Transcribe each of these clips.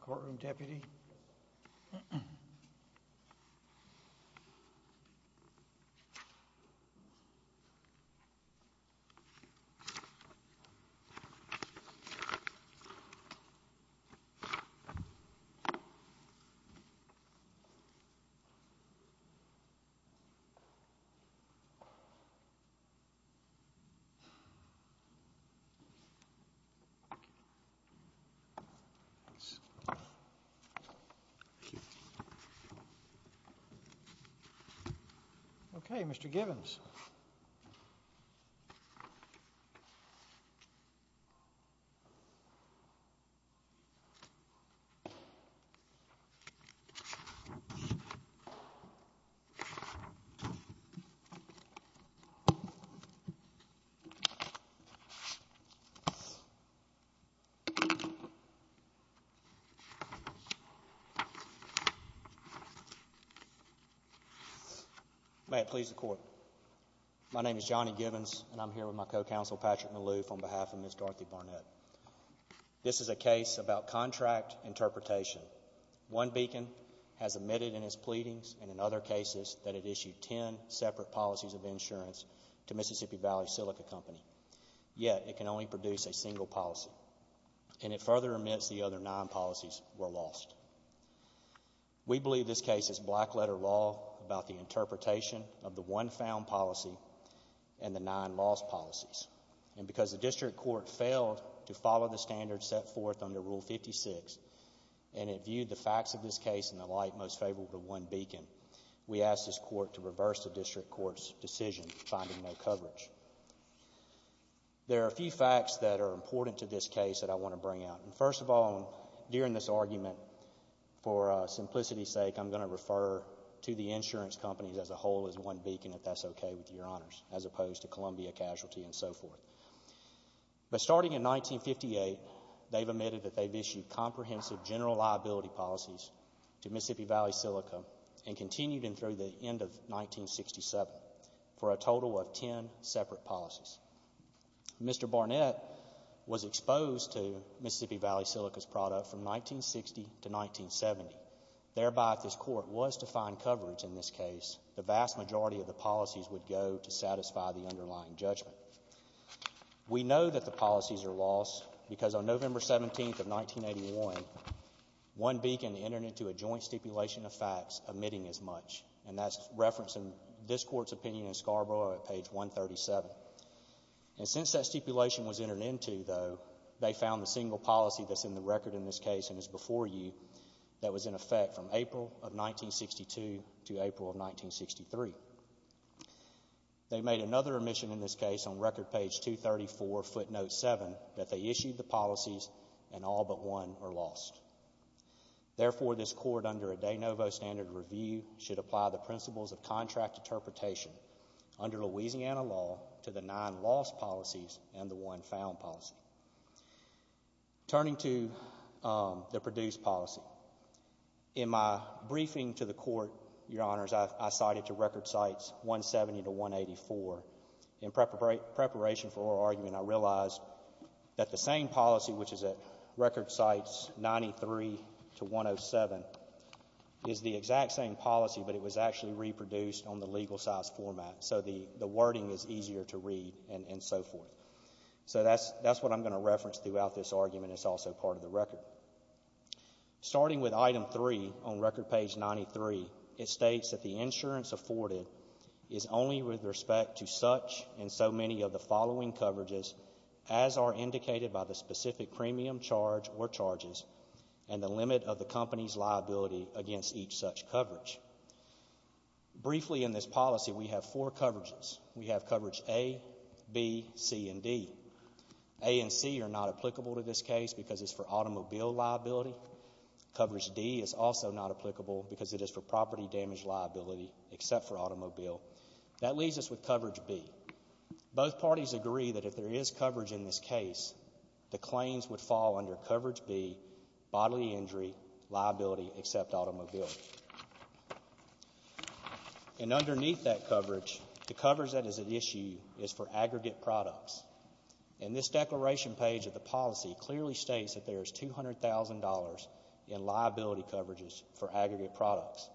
Courtroom, Deputy. Okay, Mr. Givens. May it please the Court. My name is Johnny Givens, and I'm here with my co-counsel, Patrick Maloof, on behalf of Ms. Dorothy Barnett. This is a case about contract interpretation. One beacon has admitted in its pleadings and in other cases that it issued ten separate policies of insurance to Mississippi Valley Silica Company, yet it can only produce a single beacon. We believe this case is black-letter law about the interpretation of the one found policy and the nine lost policies, and because the District Court failed to follow the standards set forth under Rule 56, and it viewed the facts of this case in the light most favorable to one beacon, we asked this Court to reverse the District Court's decision to find no coverage. There are a few facts that are important to this case that I want to bring out, and first of all, during this argument, for simplicity's sake, I'm going to refer to the insurance companies as a whole as one beacon, if that's okay with Your Honors, as opposed to Columbia Casualty and so forth. But starting in 1958, they've admitted that they've issued comprehensive general liability policies to Mississippi Valley Silica and continued in through the end of 1967 for a total of ten separate policies. Mr. Barnett was exposed to Mississippi Valley Silica's product from 1960 to 1970, thereby if this Court was to find coverage in this case, the vast majority of the policies would go to satisfy the underlying judgment. We know that the policies are lost because on November 17th of 1981, one beacon entered into a joint stipulation of facts omitting as much, and that's referenced in this Court's statement in Scarborough at page 137. And since that stipulation was entered into, though, they found the single policy that's in the record in this case and is before you that was in effect from April of 1962 to April of 1963. They made another omission in this case on record page 234, footnote 7, that they issued the policies and all but one are lost. Therefore, this Court, under a de novo standard review, should apply the principles of contract interpretation under Louisiana law to the nine lost policies and the one found policy. Turning to the produced policy, in my briefing to the Court, Your Honors, I cited to record sites 170 to 184. In preparation for our argument, I realized that the same policy, which is at record sites 93 to 107, is the exact same policy, but it was actually reproduced on the legal size format, so the wording is easier to read and so forth. So that's what I'm going to reference throughout this argument. It's also part of the record. Starting with item 3 on record page 93, it states that the insurance afforded is only with respect to such and so many of the following coverages as are indicated by the specific premium charge or charges and the limit of the company's liability against each such coverage. Briefly in this policy, we have four coverages. We have coverage A, B, C, and D. A and C are not applicable to this case because it's for automobile liability. Coverage D is also not applicable because it is for property damage liability except for automobile. That leaves us with coverage B. Both parties agree that if there is coverage in this case, the claims would fall under coverage B, bodily injury, liability except automobile. And underneath that coverage, the coverage that is at issue is for aggregate products. And this declaration page of the policy clearly states that there is $200,000 in liability coverages for aggregate products.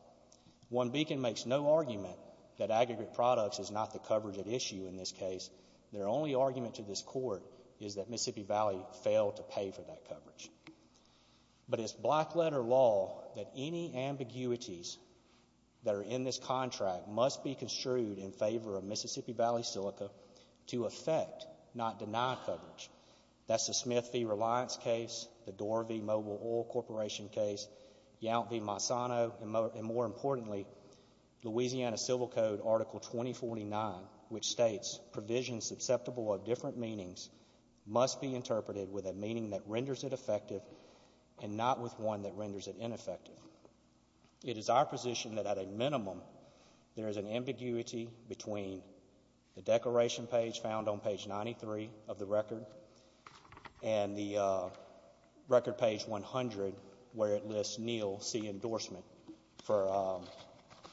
OneBeacon makes no argument that aggregate products is not the coverage at issue in this case. Their only argument to this court is that Mississippi Valley failed to pay for that coverage. But it's black letter law that any ambiguities that are in this contract must be construed in favor of Mississippi Valley Silica to affect, not deny coverage. That's the Smith v. Reliance case, the Dorr v. Mobile Oil Corporation case, Yount v. Monsanto, and more importantly, Louisiana Civil Code Article 2049, which states provisions susceptible of different meanings must be interpreted with a meaning that renders it effective and not with one that renders it ineffective. It is our position that at a minimum, there is an ambiguity between the declaration page found on page 93 of the record and the record page 100, where it lists Neil C. Endorsement for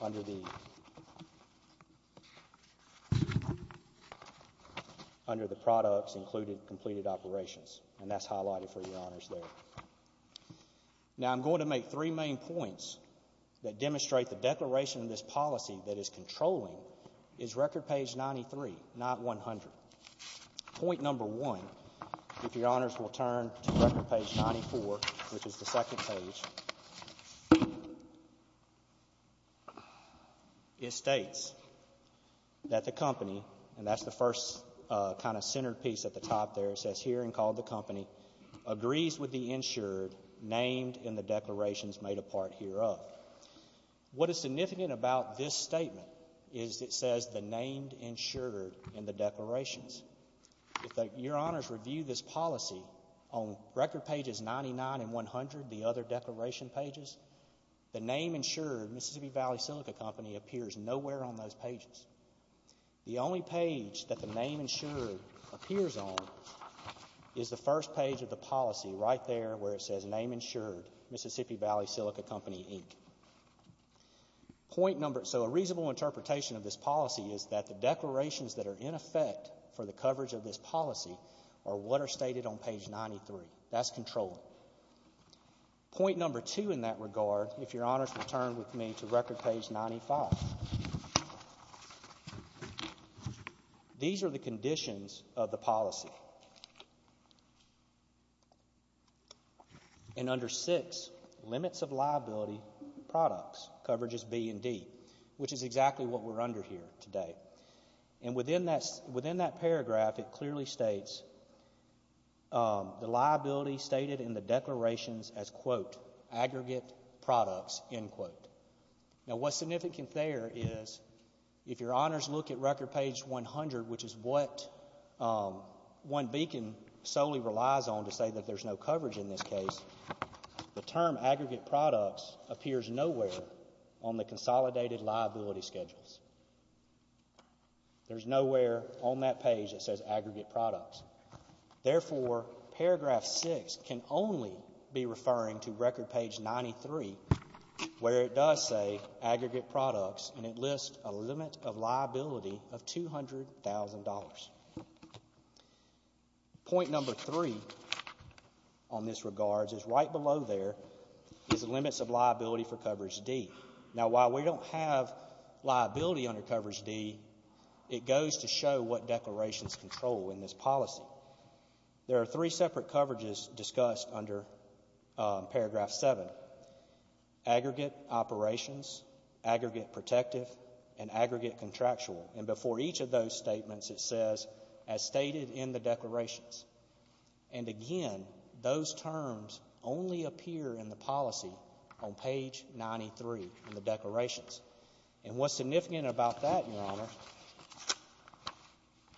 under the products included completed operations. And that's highlighted for your honors there. Now I'm going to make three main points that demonstrate the declaration of this policy that is controlling is record page 93, not 100. Point number one, if your honors will turn to record page 94, which is the second page, it states that the company, and that's the first kind of centered piece at the top there, says herein called the company, agrees with the insured named in the declarations made apart hereof. What is significant about this statement is it says the named insured in the declarations. If your honors review this policy on record pages 99 and 100, the other declaration pages, the name insured, Mississippi Valley Silica Company, appears nowhere on those pages. The only page that the name insured appears on is the first page of the policy right there where it says name insured, Mississippi Valley Silica Company, Inc. Point number, so a reasonable interpretation of this policy is that the declarations that are in effect for the coverage of this policy are what are stated on page 93. That's controlling. Point number two in that regard, if your honors will turn with me to record page 95. These are the conditions of the policy, and under six limits of liability products, coverages B and D, which is exactly what we're under here today, and within that paragraph it clearly states the liability stated in the declarations as quote, aggregate products, end quote. Now, what's significant there is if your honors look at record page 100, which is what one beacon solely relies on to say that there's no coverage in this case, the term aggregate products appears nowhere on the consolidated liability schedules. There's nowhere on that page that says aggregate products. Therefore, paragraph six can only be referring to record page 93 where it does say aggregate products and it lists a limit of liability of $200,000. Point number three on this regards is right below there is limits of liability for coverage D. Now, while we don't have liability under coverage D, it goes to show what declarations control in this policy. There are three separate coverages discussed under paragraph seven. Aggregate operations, aggregate protective, and aggregate contractual, and before each of those statements it says as stated in the declarations, and again, those terms only appear in the policy on page 93 in the declarations, and what's significant about that,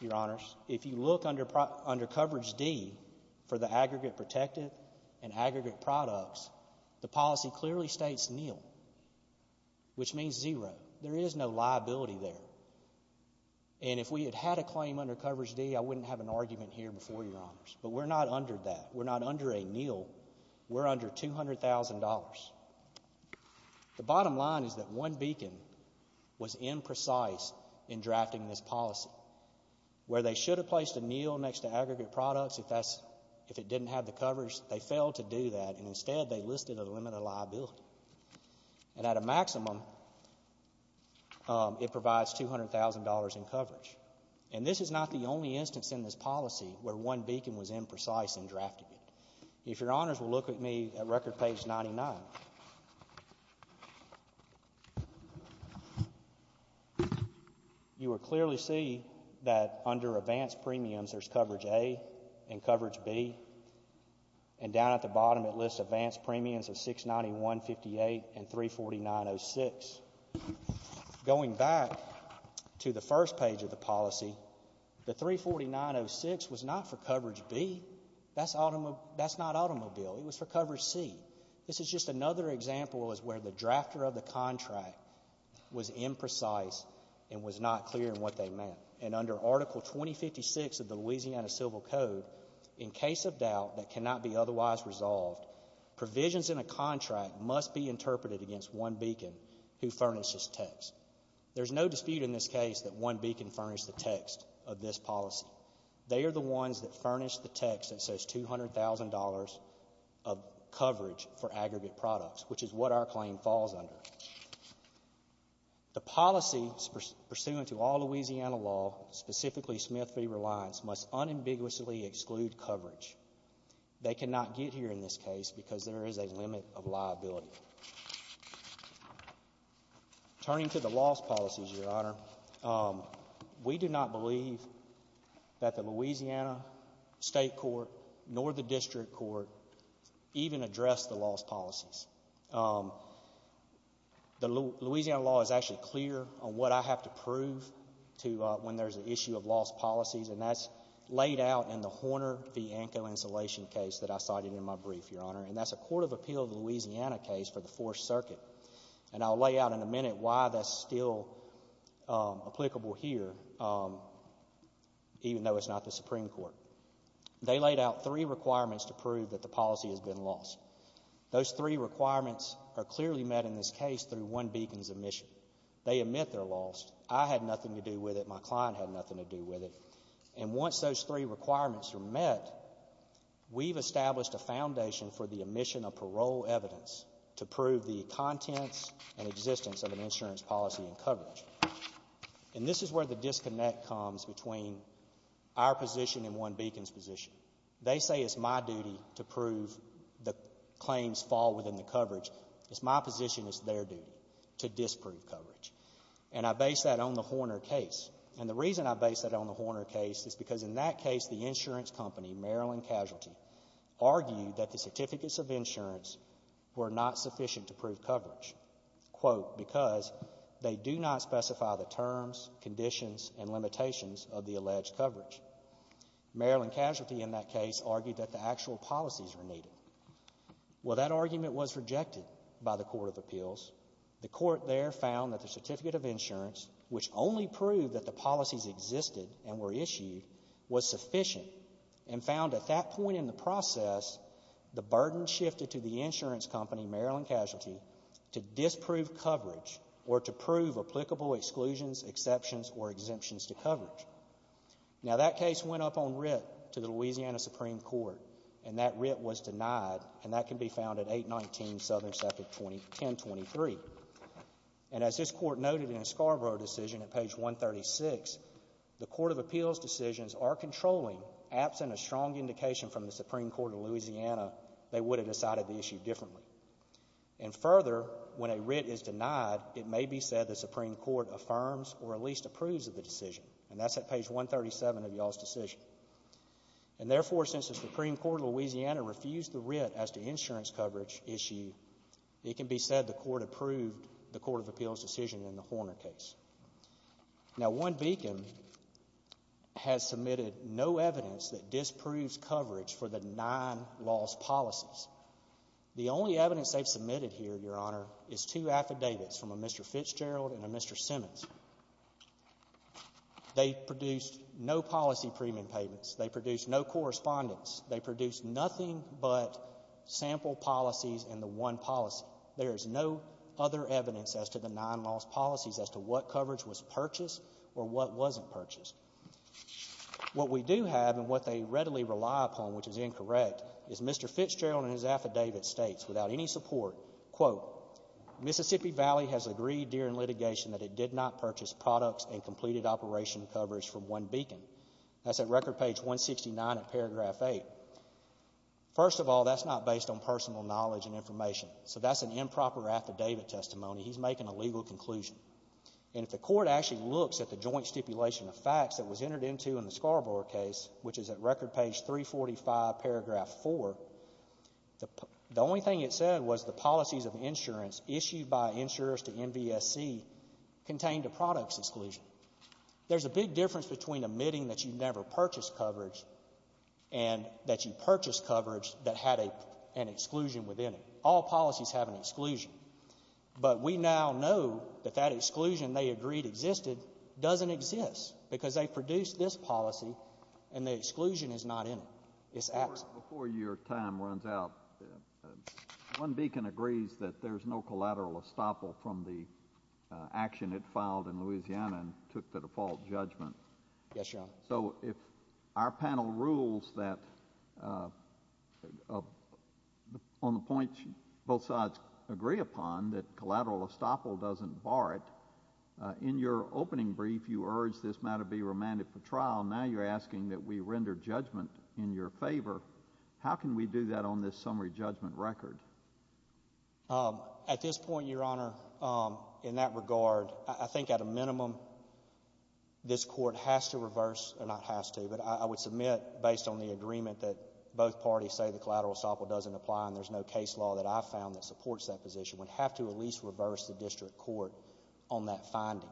your honors, if you look under coverage D for the aggregate protective and aggregate products, the policy clearly states nil, which means zero. There is no liability there, and if we had had a claim under coverage D, I wouldn't have an argument here before your honors, but we're not under that. We're not under a nil. We're under $200,000. The bottom line is that one beacon was imprecise in drafting this policy, where they should have placed a nil next to aggregate products if that's, if it didn't have the coverage, they failed to do that, and instead they listed a limit of liability, and at a maximum it provides $200,000 in coverage, and this is not the only instance in this policy where one beacon was imprecise in drafting it. If your honors will look at me at record page 99, you will clearly see that under advanced premiums there's coverage A and coverage B, and down at the bottom it lists advanced premiums of $691.58 and $349.06. Going back to the first page of the policy, the $349.06 was not for coverage B. That's not automobile. It was for coverage C. This is just another example of where the drafter of the contract was imprecise and was not clear in what they meant, and under Article 2056 of the Louisiana Civil Code, in case of doubt that cannot be otherwise resolved, provisions in a contract must be interpreted against one beacon who furnishes text. There's no dispute in this case that one beacon furnished the text of this policy. They are the ones that furnished the text that says $200,000 of coverage for aggregate products, which is what our claim falls under. The policy pursuant to all Louisiana law, specifically Smith v. Reliance, must unambiguously exclude coverage. They cannot get here in this case because there is a limit of liability. Turning to the loss policies, Your Honor, we do not believe that the Louisiana State Court nor the District Court even addressed the loss policies. The Louisiana law is actually clear on what I have to prove when there's an issue of loss policies, and that's laid out in the Horner v. Anko insulation case that I cited in my brief, Your Honor, and that's a Court of Appeal of Louisiana case for the Fourth Circuit. And I'll lay out in a minute why that's still applicable here, even though it's not the Supreme Court. They laid out three requirements to prove that the policy has been lost. Those three requirements are clearly met in this case through one beacon's omission. They admit their loss. I had nothing to do with it. My client had nothing to do with it. And once those three requirements are met, we've established a foundation for the omission of parole evidence to prove the contents and existence of an insurance policy and coverage. And this is where the disconnect comes between our position and one beacon's position. They say it's my duty to prove the claims fall within the coverage. It's my position, it's their duty to disprove coverage. And I base that on the Horner case. And the reason I base that on the Horner case is because in that case, the insurance company, Maryland Casualty, argued that the certificates of insurance were not sufficient to prove coverage, quote, because they do not specify the terms, conditions, and limitations of the alleged coverage. Maryland Casualty, in that case, argued that the actual policies were needed. Well, that argument was rejected by the Court of Appeals. The Court there found that the certificate of insurance, which only proved that the policies existed and were issued, was sufficient and found at that point in the process the burden shifted to the insurance company, Maryland Casualty, to disprove coverage or to prove applicable exclusions, exceptions, or exemptions to coverage. Now, that case went up on writ to the Louisiana Supreme Court, and that writ was denied, and that can be found at 819 Southern Sector 1023. And as this Court noted in a Scarborough decision at page 136, the Court of Appeals decisions are controlling, absent a strong indication from the Supreme Court of Louisiana, they would have decided the issue differently. And further, when a writ is denied, it may be said the Supreme Court affirms or at least approves of the decision, and that's at page 137 of y'all's decision. And therefore, since the Supreme Court of Louisiana refused the writ as to insurance coverage issue, it can be said the Court approved the Court of Appeals decision in the Horner case. Now, one beacon has submitted no evidence that disproves coverage for the nine lost policies. The only evidence they've submitted here, Your Honor, is two affidavits from a Mr. Fitzgerald and a Mr. Simmons. They produced no policy premium payments. They produced no correspondence. They produced nothing but sample policies in the one policy. There is no other evidence as to the nine lost policies as to what coverage was purchased or what wasn't purchased. What we do have and what they readily rely upon, which is incorrect, is Mr. Fitzgerald in his affidavit states, without any support, quote, Mississippi Valley has agreed during litigation that it did not purchase products and completed operation coverage from one First of all, that's not based on personal knowledge and information. So that's an improper affidavit testimony. He's making a legal conclusion. And if the Court actually looks at the joint stipulation of facts that was entered into in the Scarborough case, which is at record page 345, paragraph 4, the only thing it said was the policies of insurance issued by insurers to NVSC contained a products exclusion. There's a big difference between admitting that you never purchased coverage and that you purchased coverage that had an exclusion within it. All policies have an exclusion. But we now know that that exclusion they agreed existed doesn't exist because they produced this policy and the exclusion is not in it. It's absent. Before your time runs out, one beacon agrees that there's no collateral estoppel from the action it filed in Louisiana and took the default judgment. Yes, Your Honor. So if our panel rules that, on the points both sides agree upon, that collateral estoppel doesn't bar it, in your opening brief you urged this matter be remanded for trial. Now you're asking that we render judgment in your favor. How can we do that on this summary judgment record? At this point, Your Honor, in that regard, I think at a minimum this Court has to reverse or not has to, but I would submit based on the agreement that both parties say the collateral estoppel doesn't apply and there's no case law that I've found that supports that position, we'd have to at least reverse the district court on that finding.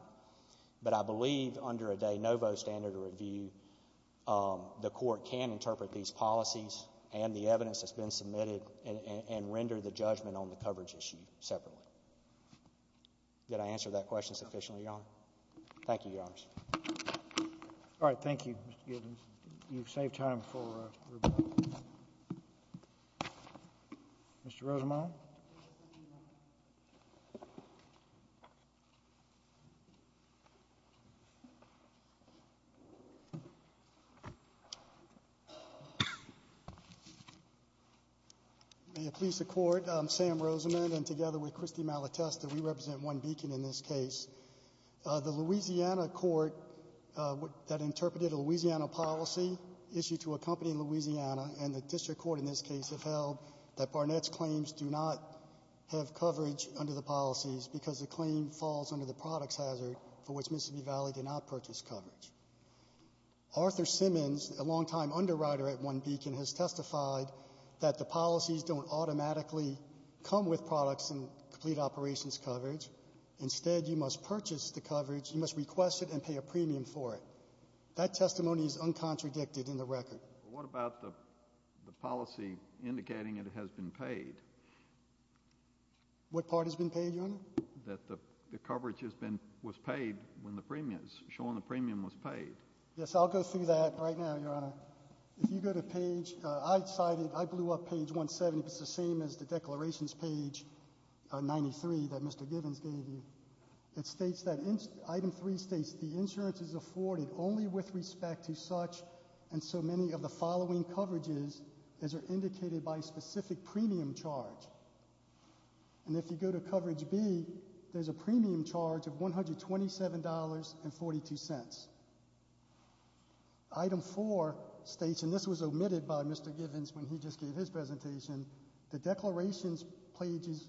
But I believe under a de novo standard of review, the Court can interpret these policies and the evidence that's been submitted and render the judgment on the coverage issue separately. Did I answer that question sufficiently, Your Honor? Thank you, Your Honors. All right. Thank you, Mr. Gibbons. You've saved time for rebuttal. Mr. Rosemond? May it please the Court, I'm Sam Rosemond, and together with Christy Malatesta, we represent One Beacon in this case. The Louisiana court that interpreted a Louisiana policy issued to a company in Louisiana and the district court in this case have held that Barnett's claims do not have coverage under the policies because the claim falls under the products hazard for which Mississippi Valley did not purchase coverage. Arthur Simmons, a long-time underwriter at One Beacon, has testified that the policies don't automatically come with products and complete operations coverage. Instead, you must purchase the coverage, you must request it and pay a premium for it. That testimony is uncontradicted in the record. What about the policy indicating it has been paid? What part has been paid, Your Honor? That the coverage has been, was paid when the premium, showing the premium was paid. Yes, I'll go through that right now, Your Honor. If you go to page, I cited, I blew up page 170, it's the same as the declarations page 93 that Mr. Gibbons gave you. It states that item 3 states, the insurance is afforded only with respect to such and so many of the following coverages as are indicated by specific premium charge. And if you go to coverage B, there's a premium charge of $127.42. Item 4 states, and this was omitted by Mr. Gibbons when he just gave his presentation, the declarations pages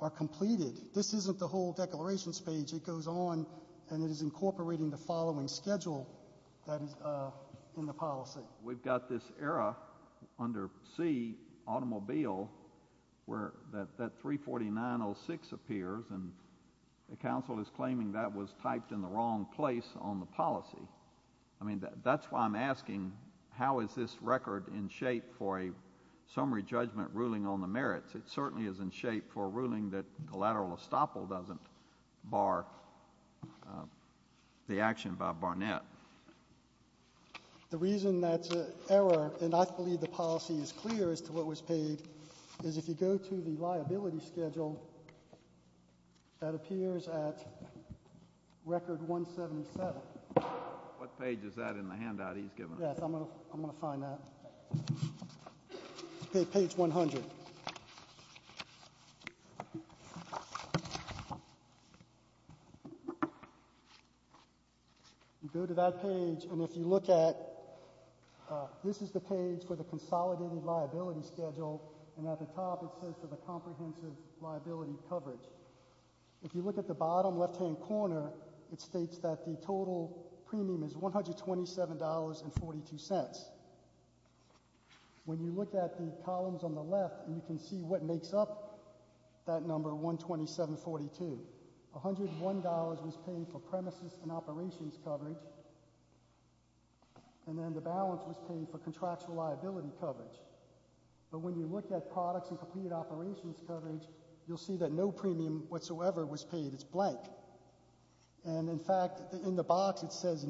are completed. This isn't the whole declarations page. It goes on and it is incorporating the following schedule that is in the policy. We've got this era under C, automobile, where that 34906 appears and the counsel is claiming that was typed in the wrong place on the policy. I mean, that's why I'm asking how is this record in shape for a summary judgment ruling on the merits? It certainly is in shape for ruling that collateral estoppel doesn't bar the action by Barnett. The reason that's an error, and I believe the policy is clear as to what was paid, is if you go to the liability schedule, that appears at record 177. What page is that in the handout he's given us? Yes, I'm going to find that. Okay, page 100. You go to that page, and if you look at, this is the page for the consolidated liability schedule, and at the top it says for the comprehensive liability coverage. If you look at the bottom When you look at the columns on the left, you can see what makes up that number 127.42. $101 was paid for premises and operations coverage, and then the balance was paid for contractual liability coverage. But when you look at products and completed operations coverage, you'll see that no premium whatsoever was paid. It's blank. And in fact, in the case of the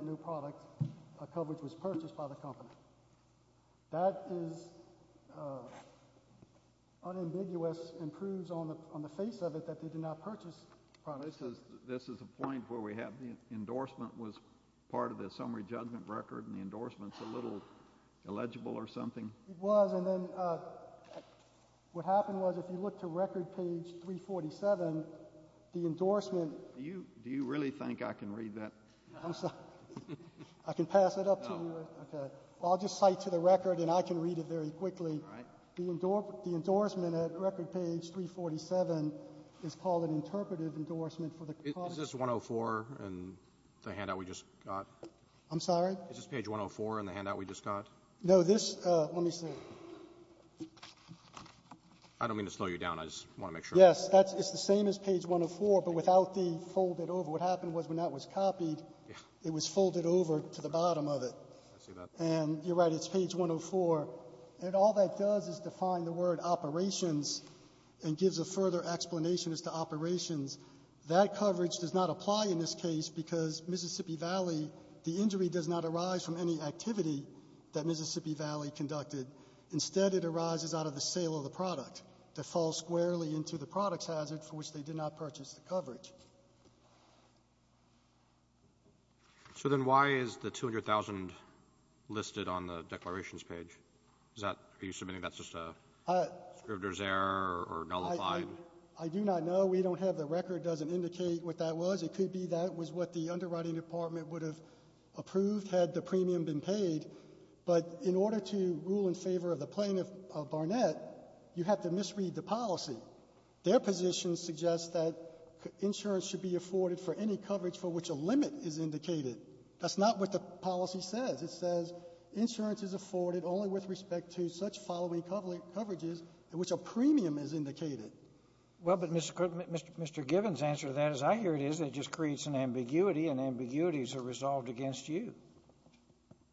new product, coverage was purchased by the company. That is unambiguous, and proves on the face of it that they did not purchase products. This is a point where we have the endorsement was part of the summary judgment record, and the endorsement's a little illegible or something. It was, and then what happened was if you look to record page 347, the endorsement Do you really think I can read that? I'm sorry. I can pass it up to you? No. Okay. Well, I'll just cite to the record, and I can read it very quickly. All right. The endorsement at record page 347 is called an interpretive endorsement for the Is this 104 in the handout we just got? I'm sorry? Is this page 104 in the handout we just got? No. This, let me see. I don't mean to slow you down. I just want to make sure. Yes. It's the same as page 104, but without the fold it over. What happened was when that was copied, it was folded over to the bottom of it, and you're right. It's page 104, and all that does is define the word operations and gives a further explanation as to operations. That coverage does not apply in this case because Mississippi Valley, the injury does not arise from any activity that Mississippi Valley conducted. Instead, it arises out of the sale of the product. The fall squarely into the product's hazard for which they did not purchase the coverage. So then why is the 200,000 listed on the declarations page? Is that, are you submitting that's just a scripter's error or nullified? I do not know. We don't have the record. It doesn't indicate what that was. It could be that was what the underwriting department would have approved had the premium been paid, but in order to rule in favor of the plaintiff of Barnett, you have to misread the policy. Their position suggests that insurance should be afforded for any coverage for which a limit is indicated. That's not what the policy says. It says insurance is afforded only with respect to such following coverages in which a premium is indicated. Well, but Mr. Givens' answer to that is, I hear it is. It just creates an ambiguity, and ambiguities are resolved against you.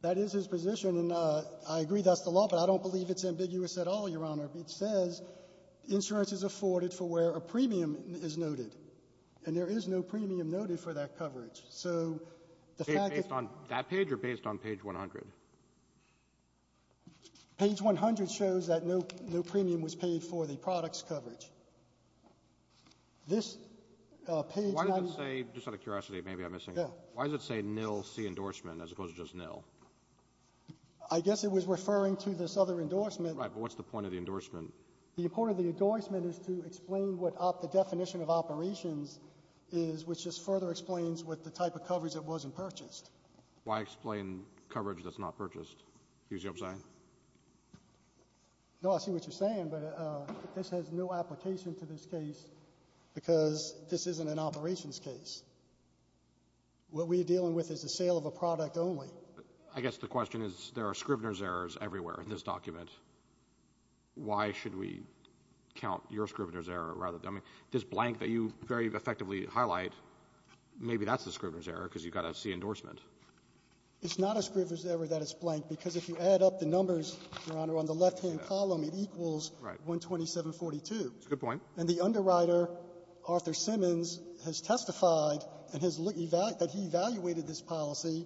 That is his position, and I agree that's the law, but I don't believe it's ambiguous at all, Your Honor. It says insurance is afforded for where a premium is noted, and there is no premium noted for that coverage. So the fact that — Based on that page or based on page 100? Page 100 shows that no premium was paid for the product's coverage. This page — Why does it say — just out of curiosity, maybe I'm missing — Yeah. Why does it say nil C endorsement as opposed to just nil? I guess it was referring to this other endorsement — Right, but what's the point of the endorsement? The point of the endorsement is to explain what the definition of operations is, which just further explains what the type of coverage that wasn't purchased. Why explain coverage that's not purchased? Do you see what I'm saying? No, I see what you're saying, but this has no application to this case because this isn't an operations case. What we're dealing with is the sale of a product only. Well, I guess the question is, there are Scrivener's errors everywhere in this document. Why should we count your Scrivener's error rather than — I mean, this blank that you very effectively highlight, maybe that's a Scrivener's error because you've got a C endorsement. It's not a Scrivener's error that it's blank because if you add up the numbers, Your Honor, on the left-hand column, it equals 12742. That's a good point. And the underwriter, Arthur Simmons, has testified that he evaluated this policy,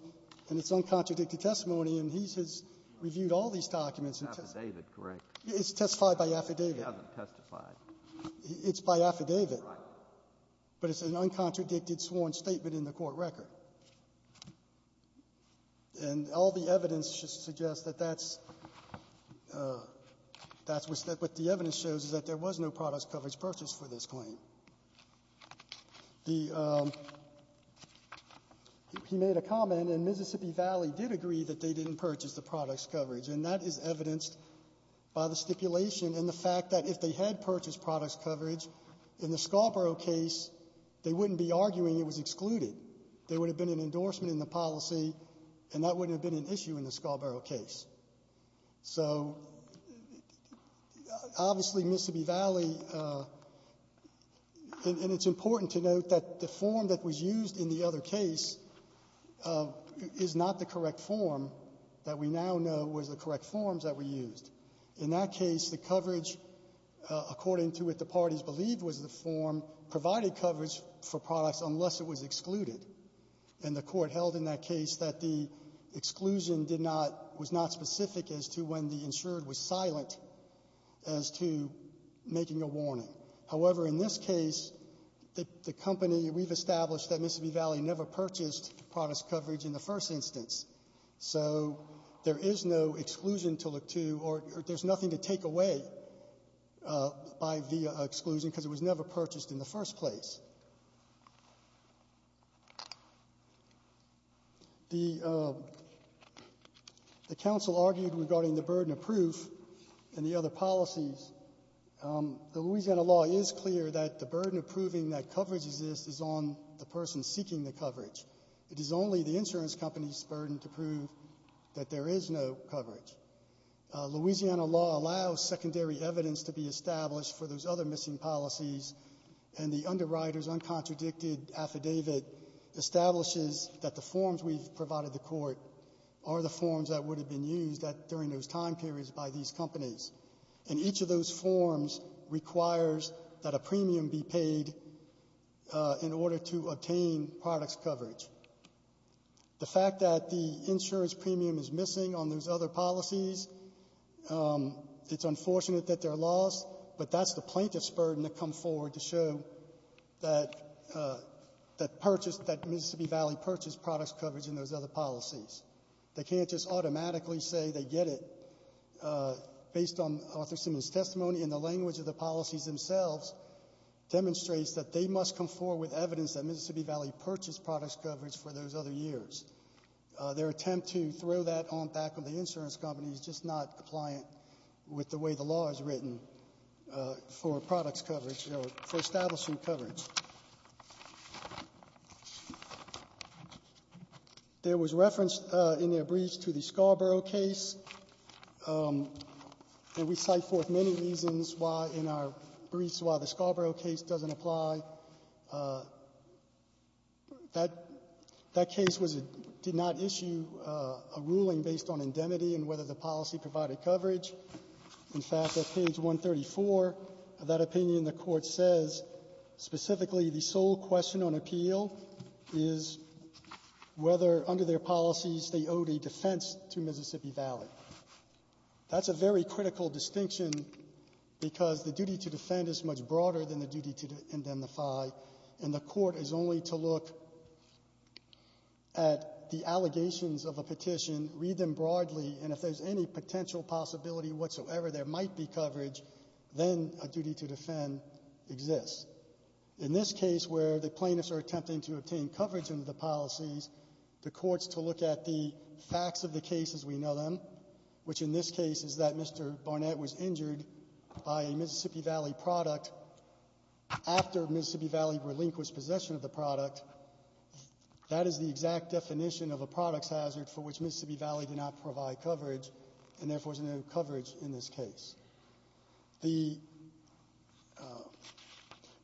and it's uncontradicted testimony, and he has reviewed all these documents. It's affidavit, correct? It's testified by affidavit. He hasn't testified. It's by affidavit. Right. But it's an uncontradicted sworn statement in the court record. And all the evidence suggests that that's — that's what the evidence shows, is that there was no product coverage purchased for this claim. The — he made a comment, and Mississippi Valley did agree that they didn't purchase the product's coverage. And that is evidenced by the stipulation and the fact that if they had purchased product's coverage, in the Scarborough case, they wouldn't be arguing it was excluded. There would have been an endorsement in the policy, and that wouldn't have been an issue in the Scarborough case. So, obviously, Mississippi Valley — and it's important to note that the form that was used in the other case is not the correct form that we now know was the correct forms that were used. In that case, the coverage, according to what the parties believed was the form, provided coverage for products unless it was excluded. And the court held in that case that the exclusion did not — was not specific as to when the insured was silent as to making a warning. However, in this case, the company — we've established that Mississippi Valley never purchased product's coverage in the first instance. So there is no exclusion to look to, or there's nothing to take away by the exclusion, because it was never purchased in the first place. The — the counsel argued regarding the burden of proof and the other policies. The Louisiana law is clear that the burden of proving that coverage exists is on the person seeking the coverage. It is only the insurance company's burden to prove that there is no coverage. Louisiana law allows secondary evidence to be established for those other missing policies, and the underwriter's uncontradicted affidavit establishes that the forms we've provided the court are the forms that would have been used during those time periods by these companies. And each of those forms requires that a premium be paid in order to obtain product's coverage. The fact that the insurance premium is missing on those other policies, it's a plaintiff's burden to come forward to show that — that purchased — that Mississippi Valley purchased product's coverage in those other policies. They can't just automatically say they get it based on Arthur Simmons' testimony, and the language of the policies themselves demonstrates that they must come forward with evidence that Mississippi Valley purchased product's coverage for those other years. Their attempt to throw that on back of the insurance company is just not compliant with the way the law is written for product's coverage, or for establishing coverage. There was reference in their briefs to the Scarborough case, and we cite forth many reasons why in our briefs why the Scarborough case doesn't apply. That case was — did not issue a ruling based on indemnity and whether the policy provided coverage. In fact, at page 134 of that opinion, the Court says specifically the sole question on appeal is whether under their policies they owed a defense to Mississippi Valley. That's a very critical distinction because the duty to defend is much broader than the duty to indemnify, and the Court is only to look at the allegations of a petition, read them broadly, and if there's any potential possibility whatsoever there might be coverage, then a duty to defend exists. In this case where the plaintiffs are attempting to obtain coverage under the policies, the Court's to look at the facts of the case as we know them, which in this case is that Mr. Barnett was injured by a Mississippi Valley product after Mississippi Valley relinquished possession of the product. In fact, that is the exact definition of a products hazard for which Mississippi Valley did not provide coverage, and therefore there's no coverage in this case.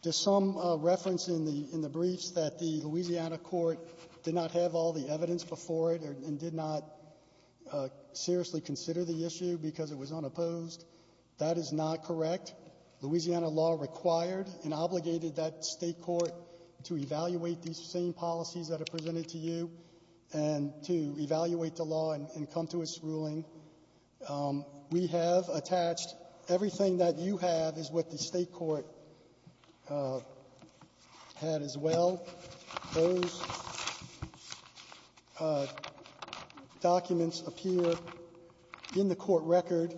There's some reference in the briefs that the Louisiana Court did not have all the evidence before it and did not seriously consider the issue because it was unopposed. That is not correct. Louisiana law required and obligated that State court to evaluate these same policies that are presented to you and to evaluate the law and come to its ruling. We have attached everything that you have is what the State court had as well. Those documents appear in the court record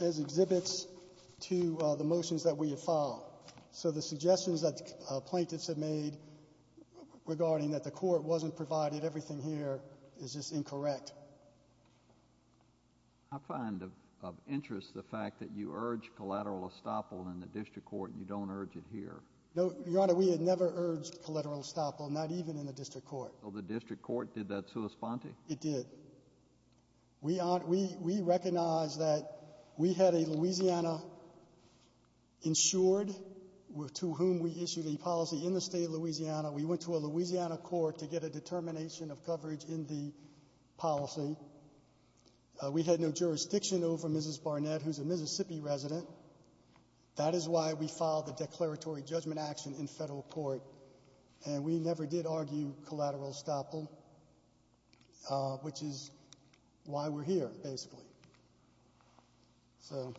as exhibits to the motions that we have filed. So the suggestions that plaintiffs have made regarding that the court wasn't provided everything here is just incorrect. I find of interest the fact that you urge collateral estoppel in the district court and you don't urge it here. No, Your Honor, we had never urged collateral estoppel, not even in the district court. So the district court did that sui sponte? It did. We recognize that we had a Louisiana insured to whom we issued a policy in the State of Louisiana. We went to a Louisiana court to get a determination of coverage in the policy. We had no jurisdiction over Mrs. Barnett, who's a Mississippi resident. That is why we filed the declaratory judgment action in federal court and we never did argue collateral estoppel, which is why we're here, basically. So,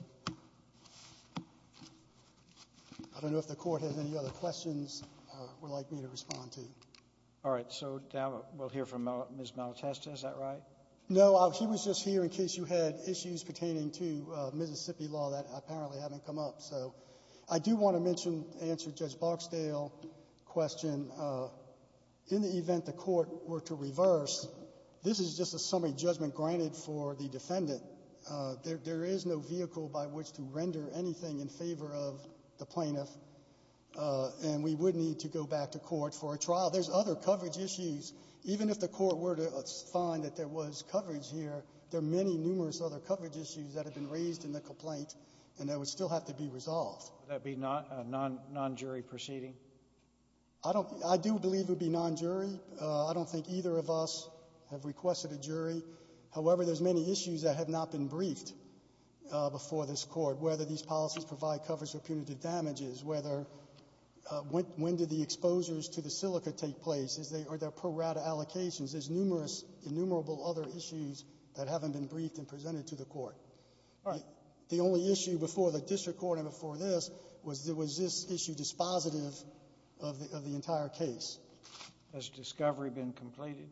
I don't know if the court has any other questions or would like me to respond to. All right, so now we'll hear from Ms. Malatesta, is that right? No, he was just here in case you had issues pertaining to Mississippi law that apparently haven't come up. So, I do want to answer Judge Boxdale's question. In the event the court were to reverse, this is just a summary judgment granted for the defendant. There is no vehicle by which to render anything in favor of the plaintiff and we would need to go back to court for a trial. There's other coverage issues. Even if the court were to find that there was coverage here, there are many numerous other coverage issues that have been raised in the complaint and that would still have to be resolved. Would that be a non-jury proceeding? I do believe it would be non-jury. I don't think either of us have requested a jury. However, there's many issues that have not been briefed before this court, whether these policies provide coverage for punitive damages, whether when did the exposures to the silica take place, are there pro rata allocations, there's numerous, innumerable other issues that haven't been briefed and presented to the court. The only issue before the district court and before this was, was this issue dispositive of the entire case. Has discovery been completed?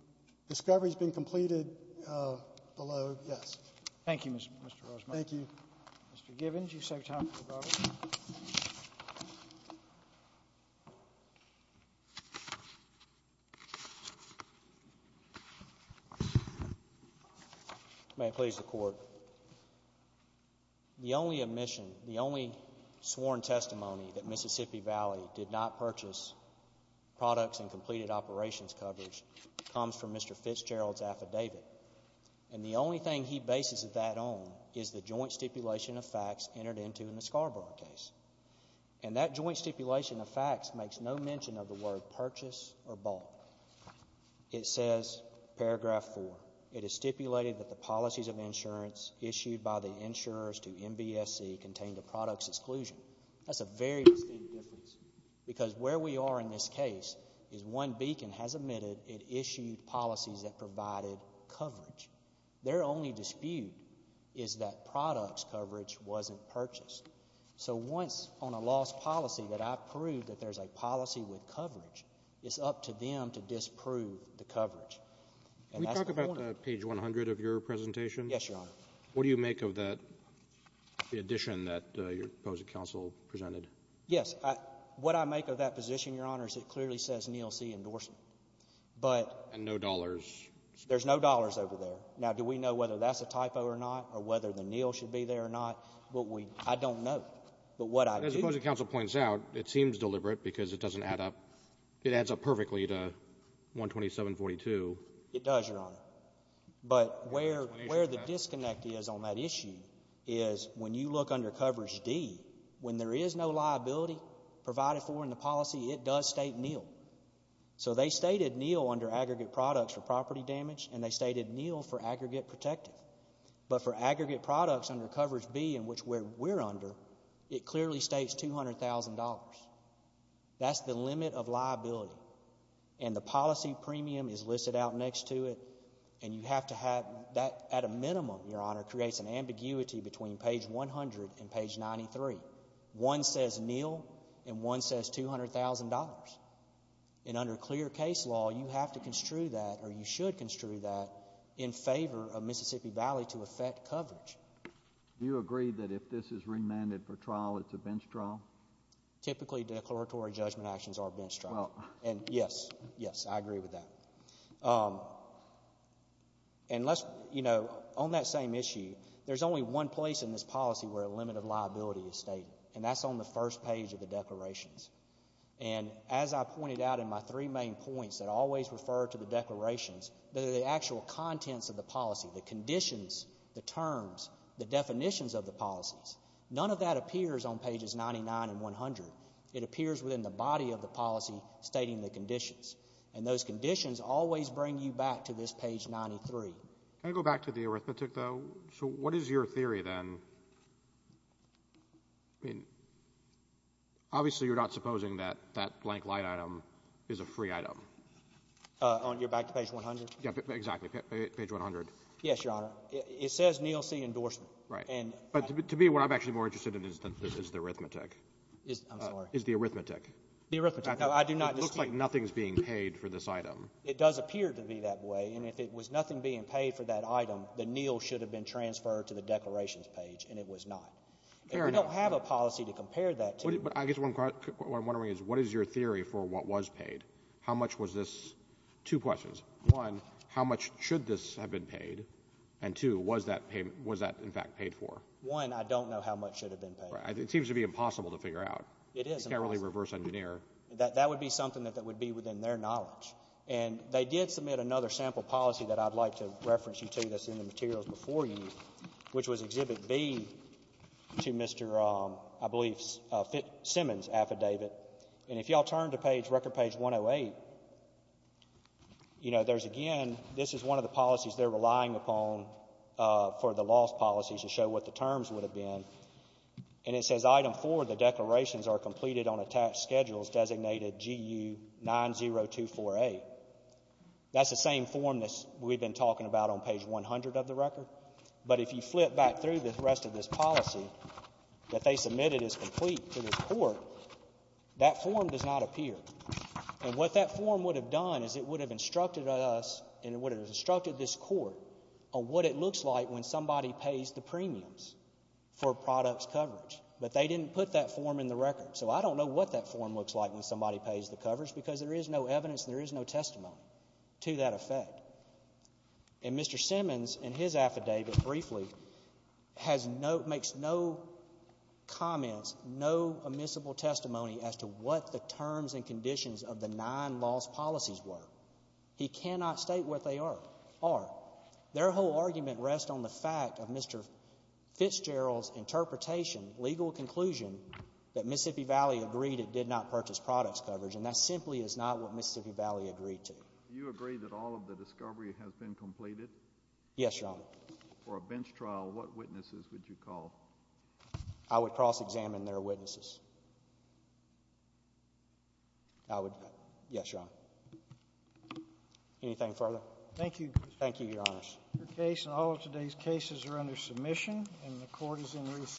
Discovery's been completed below, yes. Thank you, Mr. Rosemary. Mr. Givens, you've saved time for the brothers. May it please the court. The only admission, the only sworn testimony that Mississippi Valley did not purchase products and completed operations coverage comes from Mr. Fitzgerald's affidavit and the only thing he bases that on is the joint stipulation of facts entered into in the Scarborough case. And that joint stipulation of facts makes no mention of the word purchase or bought. It says paragraph four, it is stipulated that the policies of insurance issued by the insurers to MVSC contained a product's exclusion. That's a very distinct difference because where we are in this case is one beacon has admitted it issued policies that provided coverage. Their only dispute is that product's coverage wasn't purchased. So once on a lost policy that I've proved that there's a policy with coverage, it's up to them to disprove the coverage. Can we talk about page 100 of your presentation? Yes, Your Honor. What do you make of that, the addition that your opposed counsel presented? Yes. What I make of that position, Your Honor, is it clearly says Neil C. Endorson, but And no dollars. There's no dollars over there. Now, do we know whether that's a typo or not or whether the Neil should be there or not? I don't know. But what I do As opposing counsel points out, it seems deliberate because it doesn't add up. It adds up perfectly to 127-42. It does, Your Honor. But where the disconnect is on that issue is when you look under coverage D, when there is no liability provided for in the policy, it does state Neil. So they stated Neil under aggregate products for property damage and they stated Neil for aggregate protective. But for aggregate products under coverage B, in which we're under, it clearly states $200,000. That's the limit of liability. And the policy premium is listed out next to it and you have to have that at a minimum, Your Honor, creates an ambiguity between page 100 and page 93. One says Neil and one says $200,000. And under clear case law, you have to construe that or you should construe that in favor of Mississippi Valley to affect coverage. Do you agree that if this is remanded for trial, it's a bench trial? Typically declaratory judgment actions are bench trials. And yes, yes, I agree with that. And let's, you know, on that same issue, there's only one place in this policy where a limit of liability is stated. And that's on the first page of the declarations. And as I pointed out in my three main points that always refer to the declarations, the actual contents of the policy, the conditions, the terms, the definitions of the policies, none of that appears on pages 99 and 100. It appears within the body of the policy stating the conditions. And those conditions always bring you back to this page 93. Can I go back to the arithmetic, though? So what is your theory, then? I mean, obviously you're not supposing that that blank light item is a free item. You're back to page 100? Exactly. Page 100. Yes, Your Honor. It says Neal C. Endorsement. Right. But to me, what I'm actually more interested in is the arithmetic. I'm sorry. Is the arithmetic. The arithmetic. No, I do not. It looks like nothing is being paid for this item. It does appear to be that way. And if it was nothing being paid for that item, the Neal should have been transferred to the declarations page, and it was not. Fair enough. And we don't have a policy to compare that to. But I guess what I'm wondering is what is your theory for what was paid? How much was this? Two questions. One, how much should this have been paid? And two, was that payment — was that, in fact, paid for? One, I don't know how much should have been paid. It seems to be impossible to figure out. It is impossible. You can't really reverse engineer. That would be something that would be within their knowledge. And they did submit another sample policy that I'd like to reference you to that's in the materials before you, which was Exhibit B to Mr., I believe, Simmons' affidavit. And if y'all turn to page — record page 108, you know, there's again — this is one of the policies they're relying upon for the loss policies to show what the terms would have been. And it says, item four, the declarations are completed on attached schedules designated GU-9024A. That's the same form that we've been talking about on page 100 of the record. But if you flip back through the rest of this policy that they submitted as complete to this court, that form does not appear. And what that form would have done is it would have instructed us and it would have instructed this court on what it looks like when somebody pays the premiums for products coverage. But they didn't put that form in the record, so I don't know what that form looks like when somebody pays the coverage, because there is no evidence and there is no testimony to that effect. And Mr. Simmons, in his affidavit, briefly, has no — makes no comments, no admissible testimony as to what the terms and conditions of the nine loss policies were. He cannot state what they are. Their whole argument rests on the fact of Mr. Fitzgerald's interpretation, legal conclusion, that Mississippi Valley agreed it did not purchase products coverage, and that simply is not what Mississippi Valley agreed to. Do you agree that all of the discovery has been completed? Yes, Your Honor. For a bench trial, what witnesses would you call? I would cross-examine their witnesses. I would — yes, Your Honor. Anything further? Thank you, Your Honor. Your case and all of today's cases are under submission, and the court is in recess.